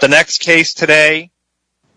The next case today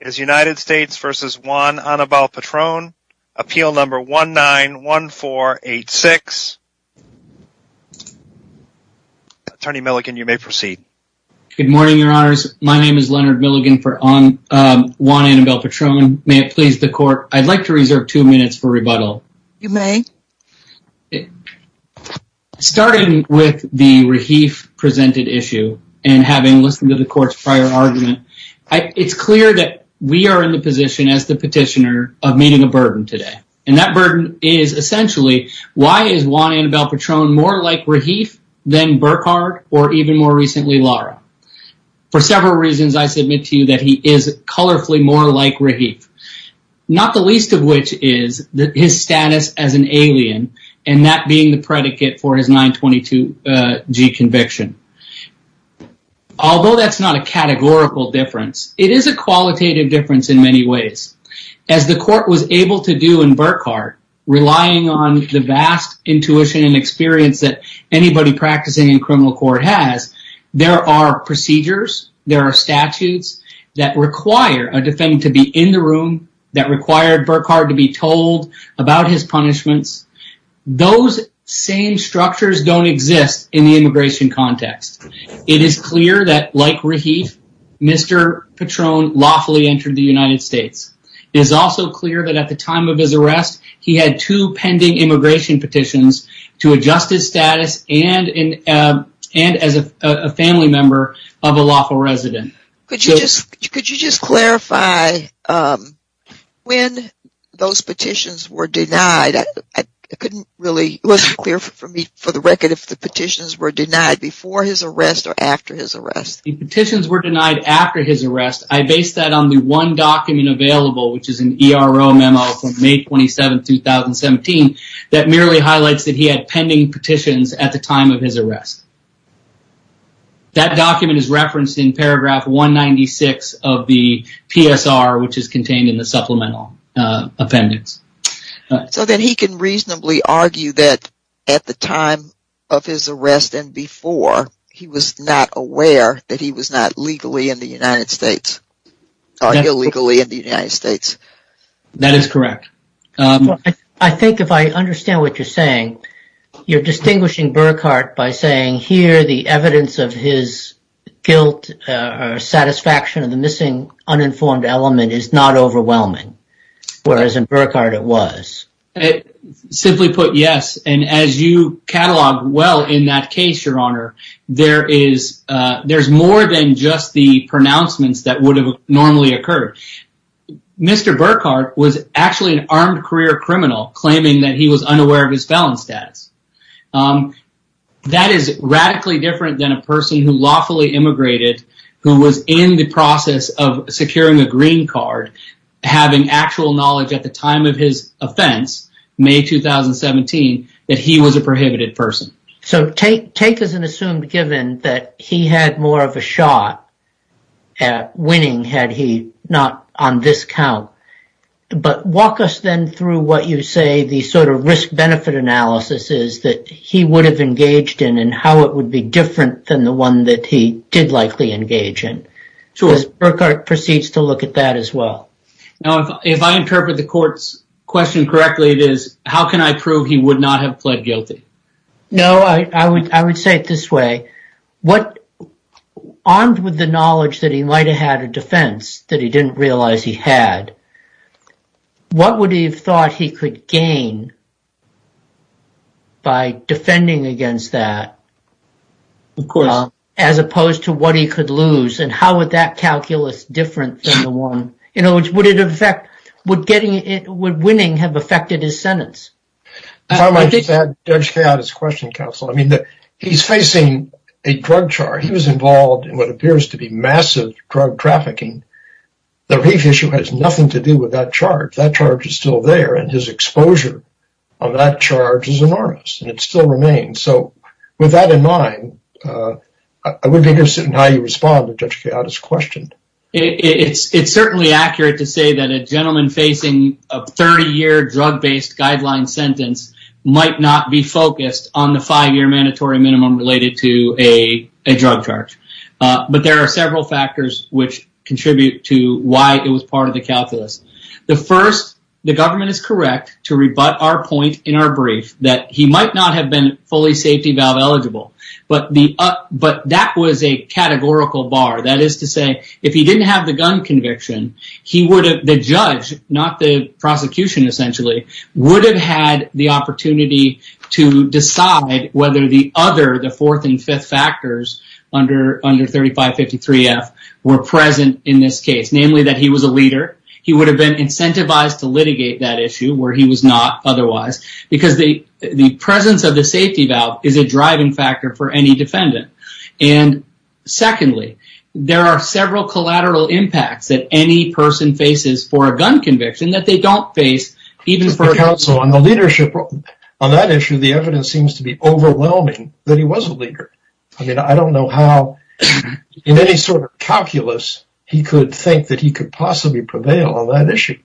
is United States v. Juan Anabel Patrone, appeal number 191486. Attorney Milligan, you may proceed. Good morning, Your Honors. My name is Leonard Milligan for Juan Anabel Patrone. May it please the Court, I'd like to reserve two minutes for rebuttal. You may. Starting with the Rahif presented issue and having listened to the Court's prior argument, it's clear that we are in the position as the petitioner of meeting a burden today. And that burden is essentially why is Juan Anabel Patrone more like Rahif than Burkhardt or even more recently Lara. For several reasons, I submit to you that he is colorfully more like Rahif. Not the least of which is his status as an alien and that being the predicate for his 922G conviction. Although that's not a categorical difference, it is a qualitative difference in many ways. As the Court was able to do in Burkhardt, relying on the vast intuition and experience that anybody practicing in criminal court has, there are procedures, there are statutes that require a defendant to be in the room, that require Burkhardt to be told about his punishments. Those same structures don't exist in the immigration context. It is clear that like Rahif, Mr. Patrone lawfully entered the United States. It is also clear that at the time of his arrest, he had two pending immigration petitions to adjust his status and as a family member of a lawful resident. Could you just clarify when those petitions were denied? It wasn't clear for me for the record if the petitions were denied before his arrest or after his arrest. The petitions were denied after his arrest. I based that on the one document available, which is an ERO memo from May 27, 2017, that merely highlights that he had pending petitions at the time of his arrest. That document is referenced in paragraph 196 of the PSR, which is contained in the supplemental appendix. So then he can reasonably argue that at the time of his arrest and before, he was not aware that he was not legally in the United States, or illegally in the United States. That is correct. I think if I understand what you're saying, you're distinguishing Burkhardt by saying here the evidence of his guilt or satisfaction of the missing uninformed element is not overwhelming, whereas in Burkhardt it was. Simply put, yes. And as you catalog well in that case, your honor, there is more than just the pronouncements that would have normally occurred. Mr. Burkhardt was actually an armed career criminal claiming that he was unaware of his felon status. That is radically different than a person who lawfully immigrated, who was in the process of securing a green card, having actual knowledge at the time of his offense, May 2017, that he was a prohibited person. So take as an assumed given that he had more of a shot at winning had he not on this count. But walk us then through what you say the sort of risk-benefit analysis is that he would have engaged in and how it would be different than the one that he did likely engage in. Because Burkhardt proceeds to look at that as well. If I interpret the court's question correctly, it is how can I prove he would not have pled guilty? No, I would say it this way. Armed with the knowledge that he might have had a defense that he didn't realize he had, what would he have thought he could gain by defending against that as opposed to what he could lose? And how would that calculus different than the one? In other words, would winning have affected his sentence? I just want to add to Judge Kayada's question, counsel. I mean, he's facing a drug charge. He was involved in what appears to be massive drug trafficking. The brief issue has nothing to do with that charge. That charge is still there, and his exposure on that charge is enormous, and it still remains. So with that in mind, I would be interested in how you respond to Judge Kayada's question. It's certainly accurate to say that a gentleman facing a 30-year drug-based guideline sentence might not be focused on the five-year mandatory minimum related to a drug charge. But there are several factors which contribute to why it was part of the calculus. The first, the government is correct to rebut our point in our brief that he might not have been fully safety valve eligible. But that was a categorical bar. That is to say, if he didn't have the gun conviction, the judge, not the prosecution essentially, would have had the opportunity to decide whether the other, the fourth and fifth factors under 3553F, were present in this case. Namely, that he was a leader. He would have been incentivized to litigate that issue where he was not otherwise. Because the presence of the safety valve is a driving factor for any defendant. And secondly, there are several collateral impacts that any person faces for a gun conviction that they don't face. On the leadership on that issue, the evidence seems to be overwhelming that he was a leader. I mean, I don't know how, in any sort of calculus, he could think that he could possibly prevail on that issue.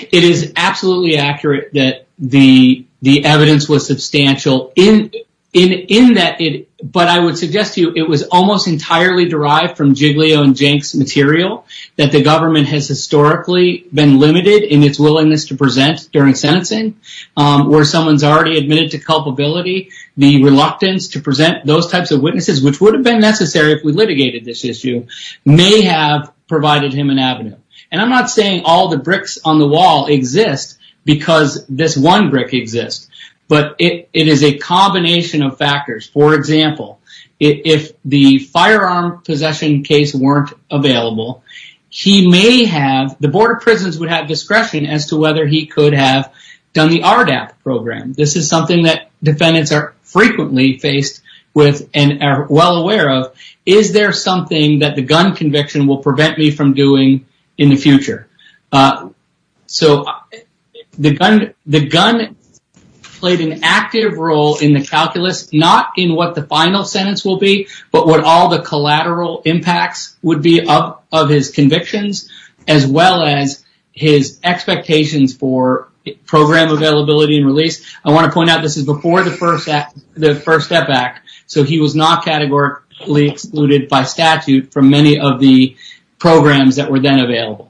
It is absolutely accurate that the evidence was substantial. But I would suggest to you, it was almost entirely derived from Giglio and Jenks material that the government has historically been limited in its willingness to present during sentencing. Where someone's already admitted to culpability, the reluctance to present those types of witnesses, which would have been necessary if we litigated this issue, may have provided him an avenue. And I'm not saying all the bricks on the wall exist because this one brick exists. But it is a combination of factors. For example, if the firearm possession case weren't available, he may have, the Board of Prisons would have discretion as to whether he could have done the RDAP program. This is something that defendants are frequently faced with and are well aware of. Is there something that the gun conviction will prevent me from doing in the future? So, the gun played an active role in the calculus, not in what the final sentence will be, but what all the collateral impacts would be of his convictions, as well as his expectations for program availability and release. I want to point out this is before the First Step Act, so he was not categorically excluded by statute from many of the programs that were then available.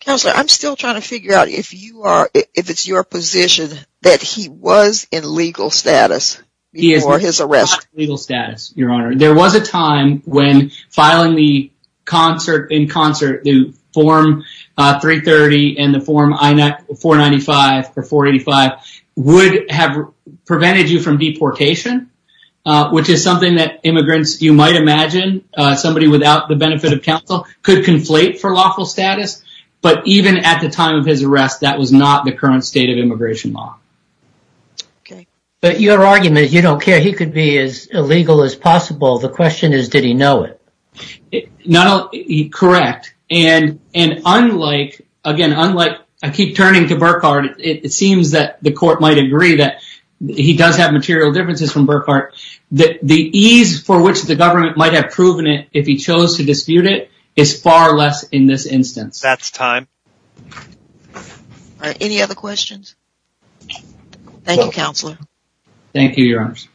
Counselor, I'm still trying to figure out if it's your position that he was in legal status before his arrest. He was not in legal status, Your Honor. There was a time when filing the concert, in concert, the Form 330 and the Form 495 or 485 would have prevented you from deportation, which is something that immigrants, you might imagine, somebody without the benefit of counsel, could conflate for lawful status. But even at the time of his arrest, that was not the current state of immigration law. But your argument is you don't care. He could be as illegal as possible. The question is, did he know it? Correct. And unlike, I keep turning to Burkhardt, it seems that the court might agree that he does have material differences from Burkhardt. The ease for which the government might have proven it if he chose to dispute it is far less in this instance. That's time. Any other questions? Thank you, Counselor. Thank you, Your Honors.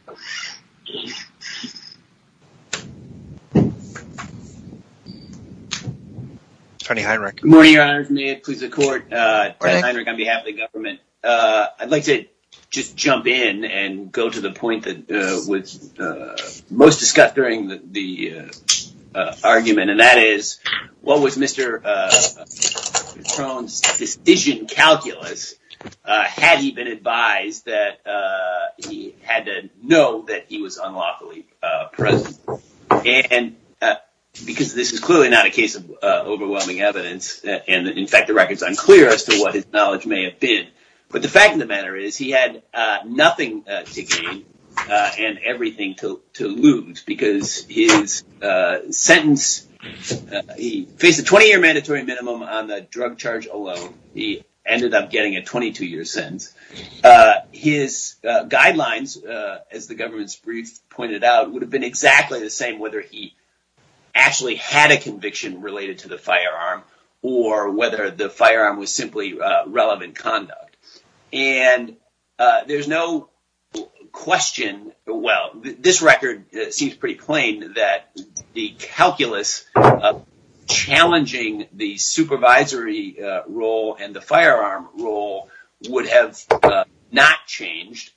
Attorney Heinrich. Good morning, Your Honors. May it please the Court. Attorney Heinrich on behalf of the government. I'd like to just jump in and go to the point that was most discussed during the argument. And that is, what was Mr. Cron's decision calculus? Had he been advised that he had to know that he was unlawfully present? And because this is clearly not a case of overwhelming evidence, and in fact, the record is unclear as to what his knowledge may have been. But the fact of the matter is he had nothing to gain and everything to lose because his sentence, he faced a 20-year mandatory minimum on the drug charge alone. He ended up getting a 22-year sentence. His guidelines, as the government's brief pointed out, would have been exactly the same whether he actually had a conviction related to the firearm or whether the firearm was simply relevant conduct. And there's no question, well, this record seems pretty plain that the calculus of challenging the supervisory role and the firearm role would have not changed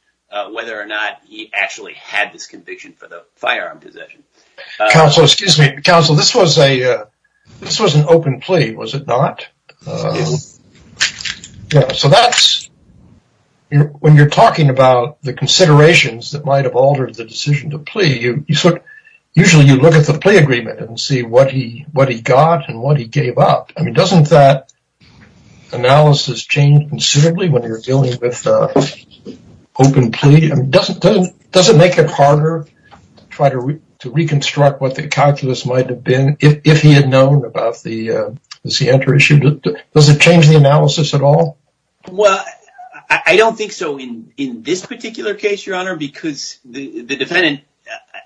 whether or not he actually had this conviction for the firearm possession. Counsel, excuse me. Counsel, this was an open plea, was it not? Yes. So that's, when you're talking about the considerations that might have altered the decision to plea, usually you look at the plea agreement and see what he got and what he gave up. I mean, doesn't that analysis change considerably when you're dealing with an open plea? Does it make it harder to try to reconstruct what the calculus might have been if he had known about the C-enter issue? Does it change the analysis at all? Well, I don't think so in this particular case, Your Honor, because the defendant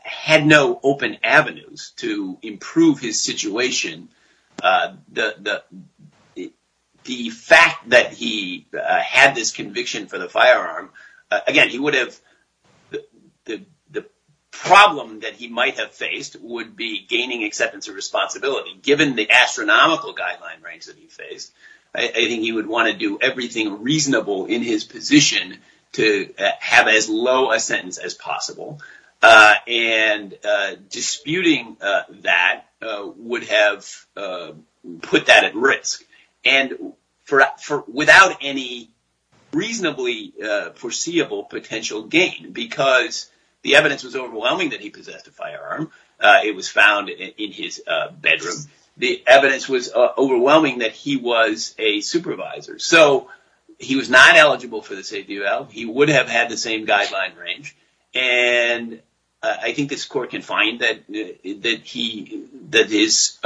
had no open avenues to improve his situation. The fact that he had this conviction for the firearm, again, he would have, the problem that he might have faced would be gaining acceptance of responsibility. He would have put that at risk without any reasonably foreseeable potential gain because the evidence was overwhelming that he possessed a firearm. It was found in his bedroom. The evidence was overwhelming that he was a supervisor. So he was not eligible for this ADL. He would have had the same guideline range. And I think this court can find that his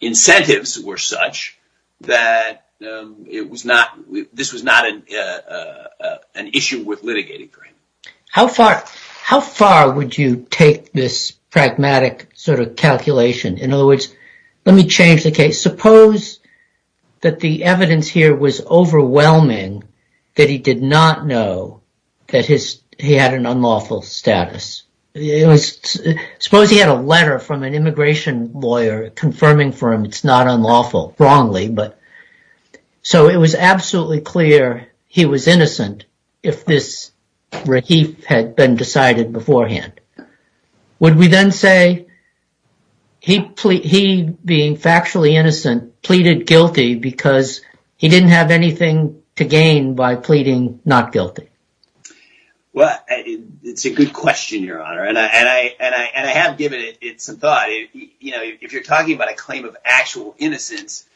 incentives were such that this was not an issue worth litigating for him. How far would you take this pragmatic sort of calculation? In other words, let me change the case. Suppose that the evidence here was overwhelming that he did not know that he had an unlawful status. Suppose he had a letter from an immigration lawyer confirming for him it's not unlawful. Wrongly, but. So it was absolutely clear he was innocent if this he had been decided beforehand. Would we then say he being factually innocent pleaded guilty because he didn't have anything to gain by pleading not guilty? Well, it's a good question, Your Honor, and I have given it some thought. You know, if you're talking about a claim of actual innocence,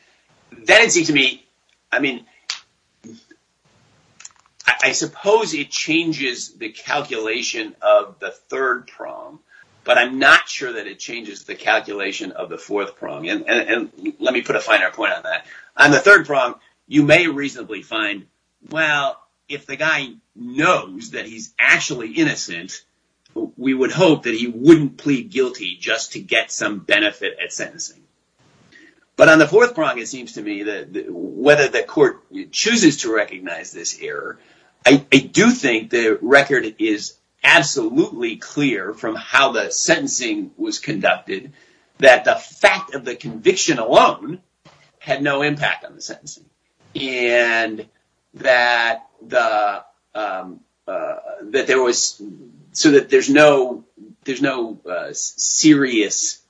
then it seems to me. I mean, I suppose it changes the calculation of the third prong, but I'm not sure that it changes the calculation of the fourth prong. And let me put a finer point on that. On the third prong, you may reasonably find, well, if the guy knows that he's actually innocent, we would hope that he wouldn't plead guilty just to get some benefit at sentencing. But on the fourth prong, it seems to me that whether the court chooses to recognize this error, I do think the record is absolutely clear from how the sentencing was conducted that the fact of the conviction alone had no impact on the sentence. And that there was so that there's no there's no serious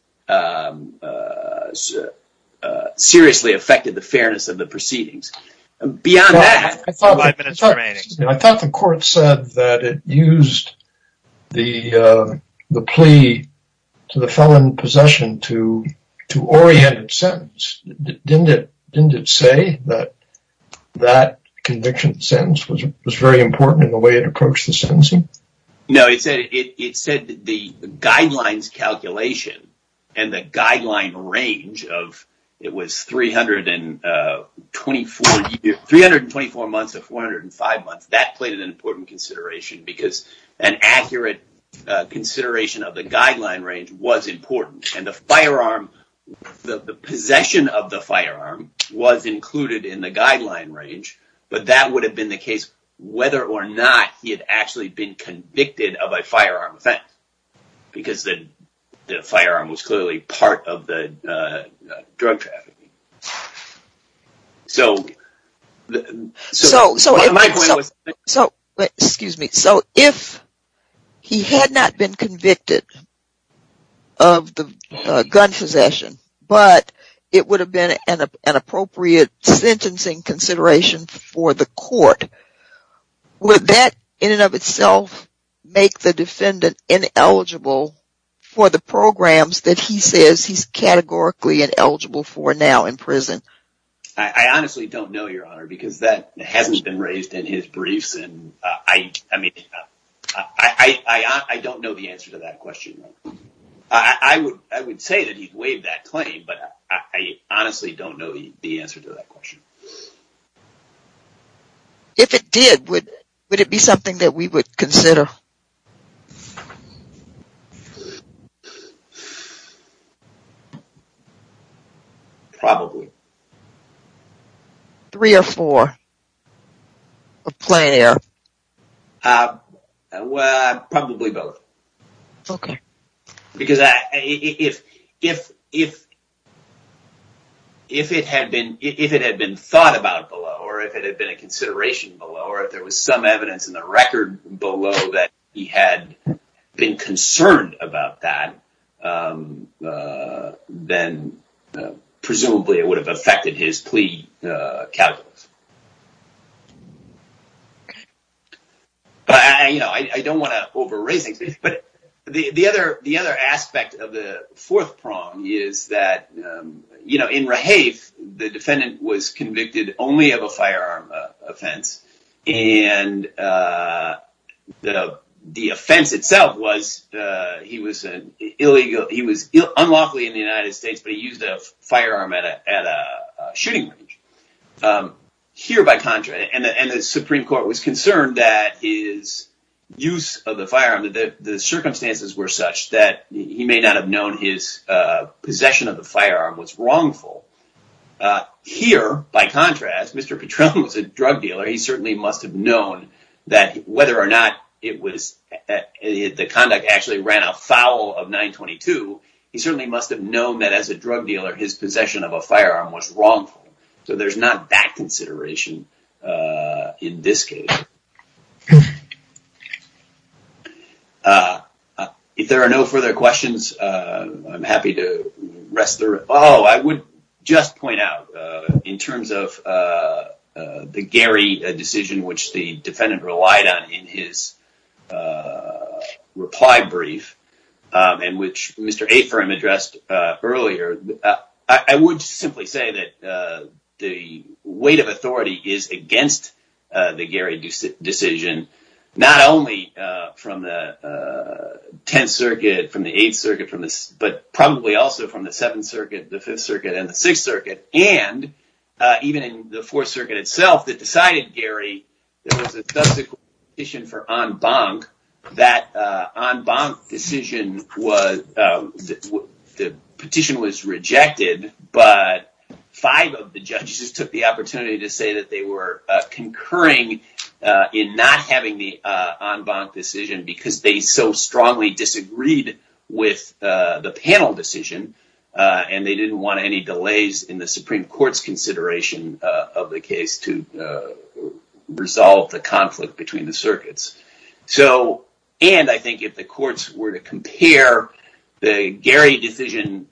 seriously affected the fairness of the proceedings. Beyond that, I thought the court said that it used the plea to the felon possession to to orient its sentence. Didn't it? Didn't it say that that conviction sentence was was very important in the way it approached the sentencing? No, it said it said the guidelines calculation and the guideline range of it was three hundred and twenty four, three hundred and twenty four months of four hundred and five months. That played an important consideration because an accurate consideration of the guideline range was important. And the firearm, the possession of the firearm was included in the guideline range. But that would have been the case whether or not he had actually been convicted of a firearm offense because the firearm was clearly part of the drug trafficking. So so so excuse me. So if he had not been convicted of the gun possession, but it would have been an appropriate sentencing consideration for the court, would that in and of itself make the defendant ineligible for the programs that he says he's categorically ineligible for now in prison? I honestly don't know your honor, because that hasn't been raised in his briefs. And I mean, I don't know the answer to that question. I would I would say that he'd waive that claim, but I honestly don't know the answer to that question. If it did, would it be something that we would consider? Probably. Three or four. A player. Well, probably both. OK, because if if if. If it had been if it had been thought about below or if it had been a consideration below or if there was some evidence in the record below that he had been concerned about that, then presumably it would have affected his plea. But, you know, I don't want to overrate things, but the other the other aspect of the fourth prong is that, you know, in Rahafe, the defendant was convicted only of a firearm offense. And the offense itself was he was an illegal. He was unlawfully in the United States, but he used a firearm at a shooting range here, by contrast. And the Supreme Court was concerned that his use of the firearm, that the circumstances were such that he may not have known his possession of the firearm was wrongful. Here, by contrast, Mr. Petrone was a drug dealer. He certainly must have known that whether or not it was the conduct actually ran afoul of 922. He certainly must have known that as a drug dealer, his possession of a firearm was wrongful. So there's not that consideration in this case. If there are no further questions, I'm happy to rest. Oh, I would just point out in terms of the Gary decision, which the defendant relied on in his reply brief and which Mr. Circuit from this, but probably also from the Seventh Circuit, the Fifth Circuit and the Sixth Circuit. And even in the Fourth Circuit itself that decided Gary, there was a petition for en banc that en banc decision was the petition was rejected. But five of the judges took the opportunity to say that they were concurring in not having the en banc decision because they so strongly disagreed with the panel decision. And they didn't want any delays in the Supreme Court's consideration of the case to resolve the conflict between the circuits. And I think if the courts were to compare the Gary decision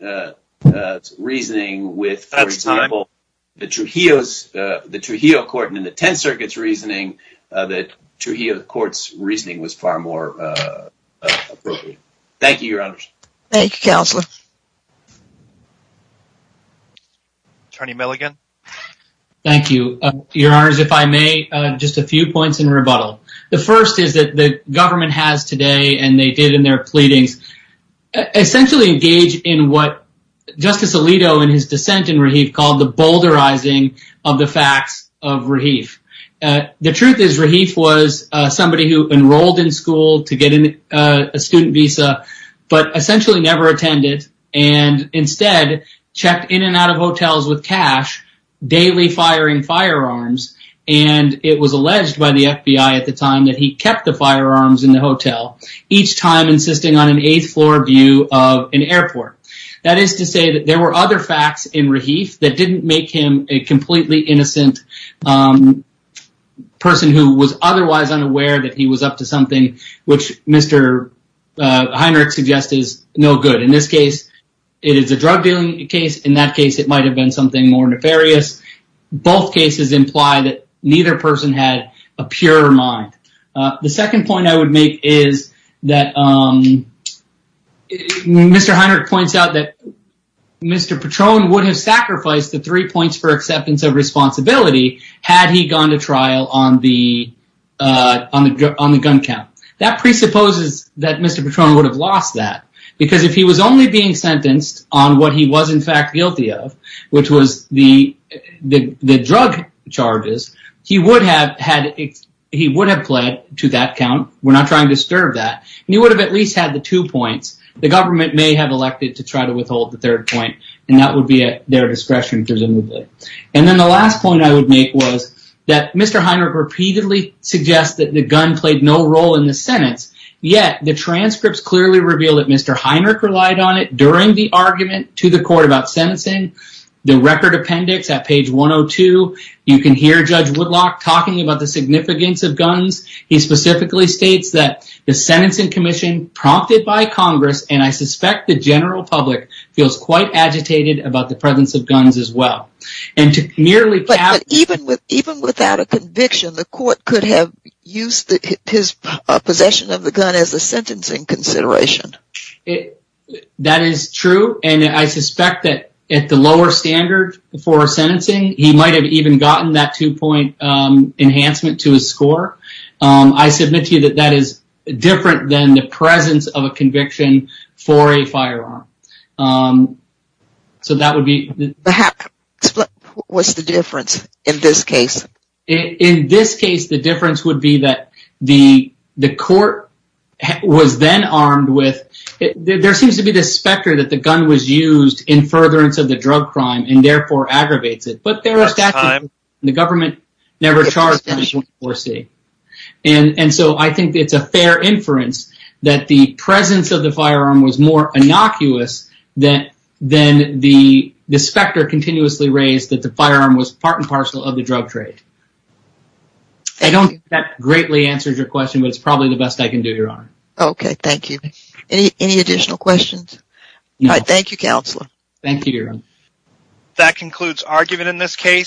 reasoning with, for example, the Trujillo court and the Tenth Circuit's reasoning, the Trujillo court's reasoning was far more appropriate. Thank you, Your Honors. Thank you, Counselor. Attorney Milligan. Thank you, Your Honors. If I may, just a few points in rebuttal. The first is that the government has today, and they did in their pleadings, essentially engage in what Justice Alito in his dissent in Rahif called the boulderizing of the facts of Rahif. The truth is Rahif was somebody who enrolled in school to get a student visa, but essentially never attended and instead checked in and out of hotels with cash, daily firing firearms. And it was alleged by the FBI at the time that he kept the firearms in the hotel, each time insisting on an eighth floor view of an airport. That is to say that there were other facts in Rahif that didn't make him a completely innocent person who was otherwise unaware that he was up to something, which Mr. Heinrich suggests is no good. In this case, it is a drug dealing case. In that case, it might have been something more nefarious. Both cases imply that neither person had a pure mind. The second point I would make is that Mr. Heinrich points out that Mr. Patron would have sacrificed the three points for acceptance of responsibility had he gone to trial on the gun count. That presupposes that Mr. Patron would have lost that. Because if he was only being sentenced on what he was in fact guilty of, which was the drug charges, he would have pled to that count. We're not trying to disturb that. He would have at least had the two points. The government may have elected to try to withhold the third point, and that would be at their discretion presumably. The last point I would make is that Mr. Heinrich repeatedly suggests that the gun played no role in the sentence. Yet, the transcripts clearly reveal that Mr. Heinrich relied on it during the argument to the court about sentencing. The record appendix at page 102, you can hear Judge Woodlock talking about the significance of guns. He specifically states that the sentencing commission prompted by Congress, and I suspect the general public, feels quite agitated about the presence of guns as well. Even without a conviction, the court could have used his possession of the gun as a sentencing consideration. That is true, and I suspect that at the lower standard for sentencing, he might have even gotten that two point enhancement to his score. I submit to you that that is different than the presence of a conviction for a firearm. So that would be... What's the difference in this case? In this case, the difference would be that the court was then armed with... There seems to be this specter that the gun was used in furtherance of the drug crime, and therefore aggravates it. The government never charged him with anything. I think it's a fair inference that the presence of the firearm was more innocuous than the specter continuously raised that the firearm was part and parcel of the drug trade. I don't think that greatly answers your question, but it's probably the best I can do, Your Honor. Okay, thank you. Any additional questions? No. Thank you, Counselor. Thank you, Your Honor. That concludes argument in this case.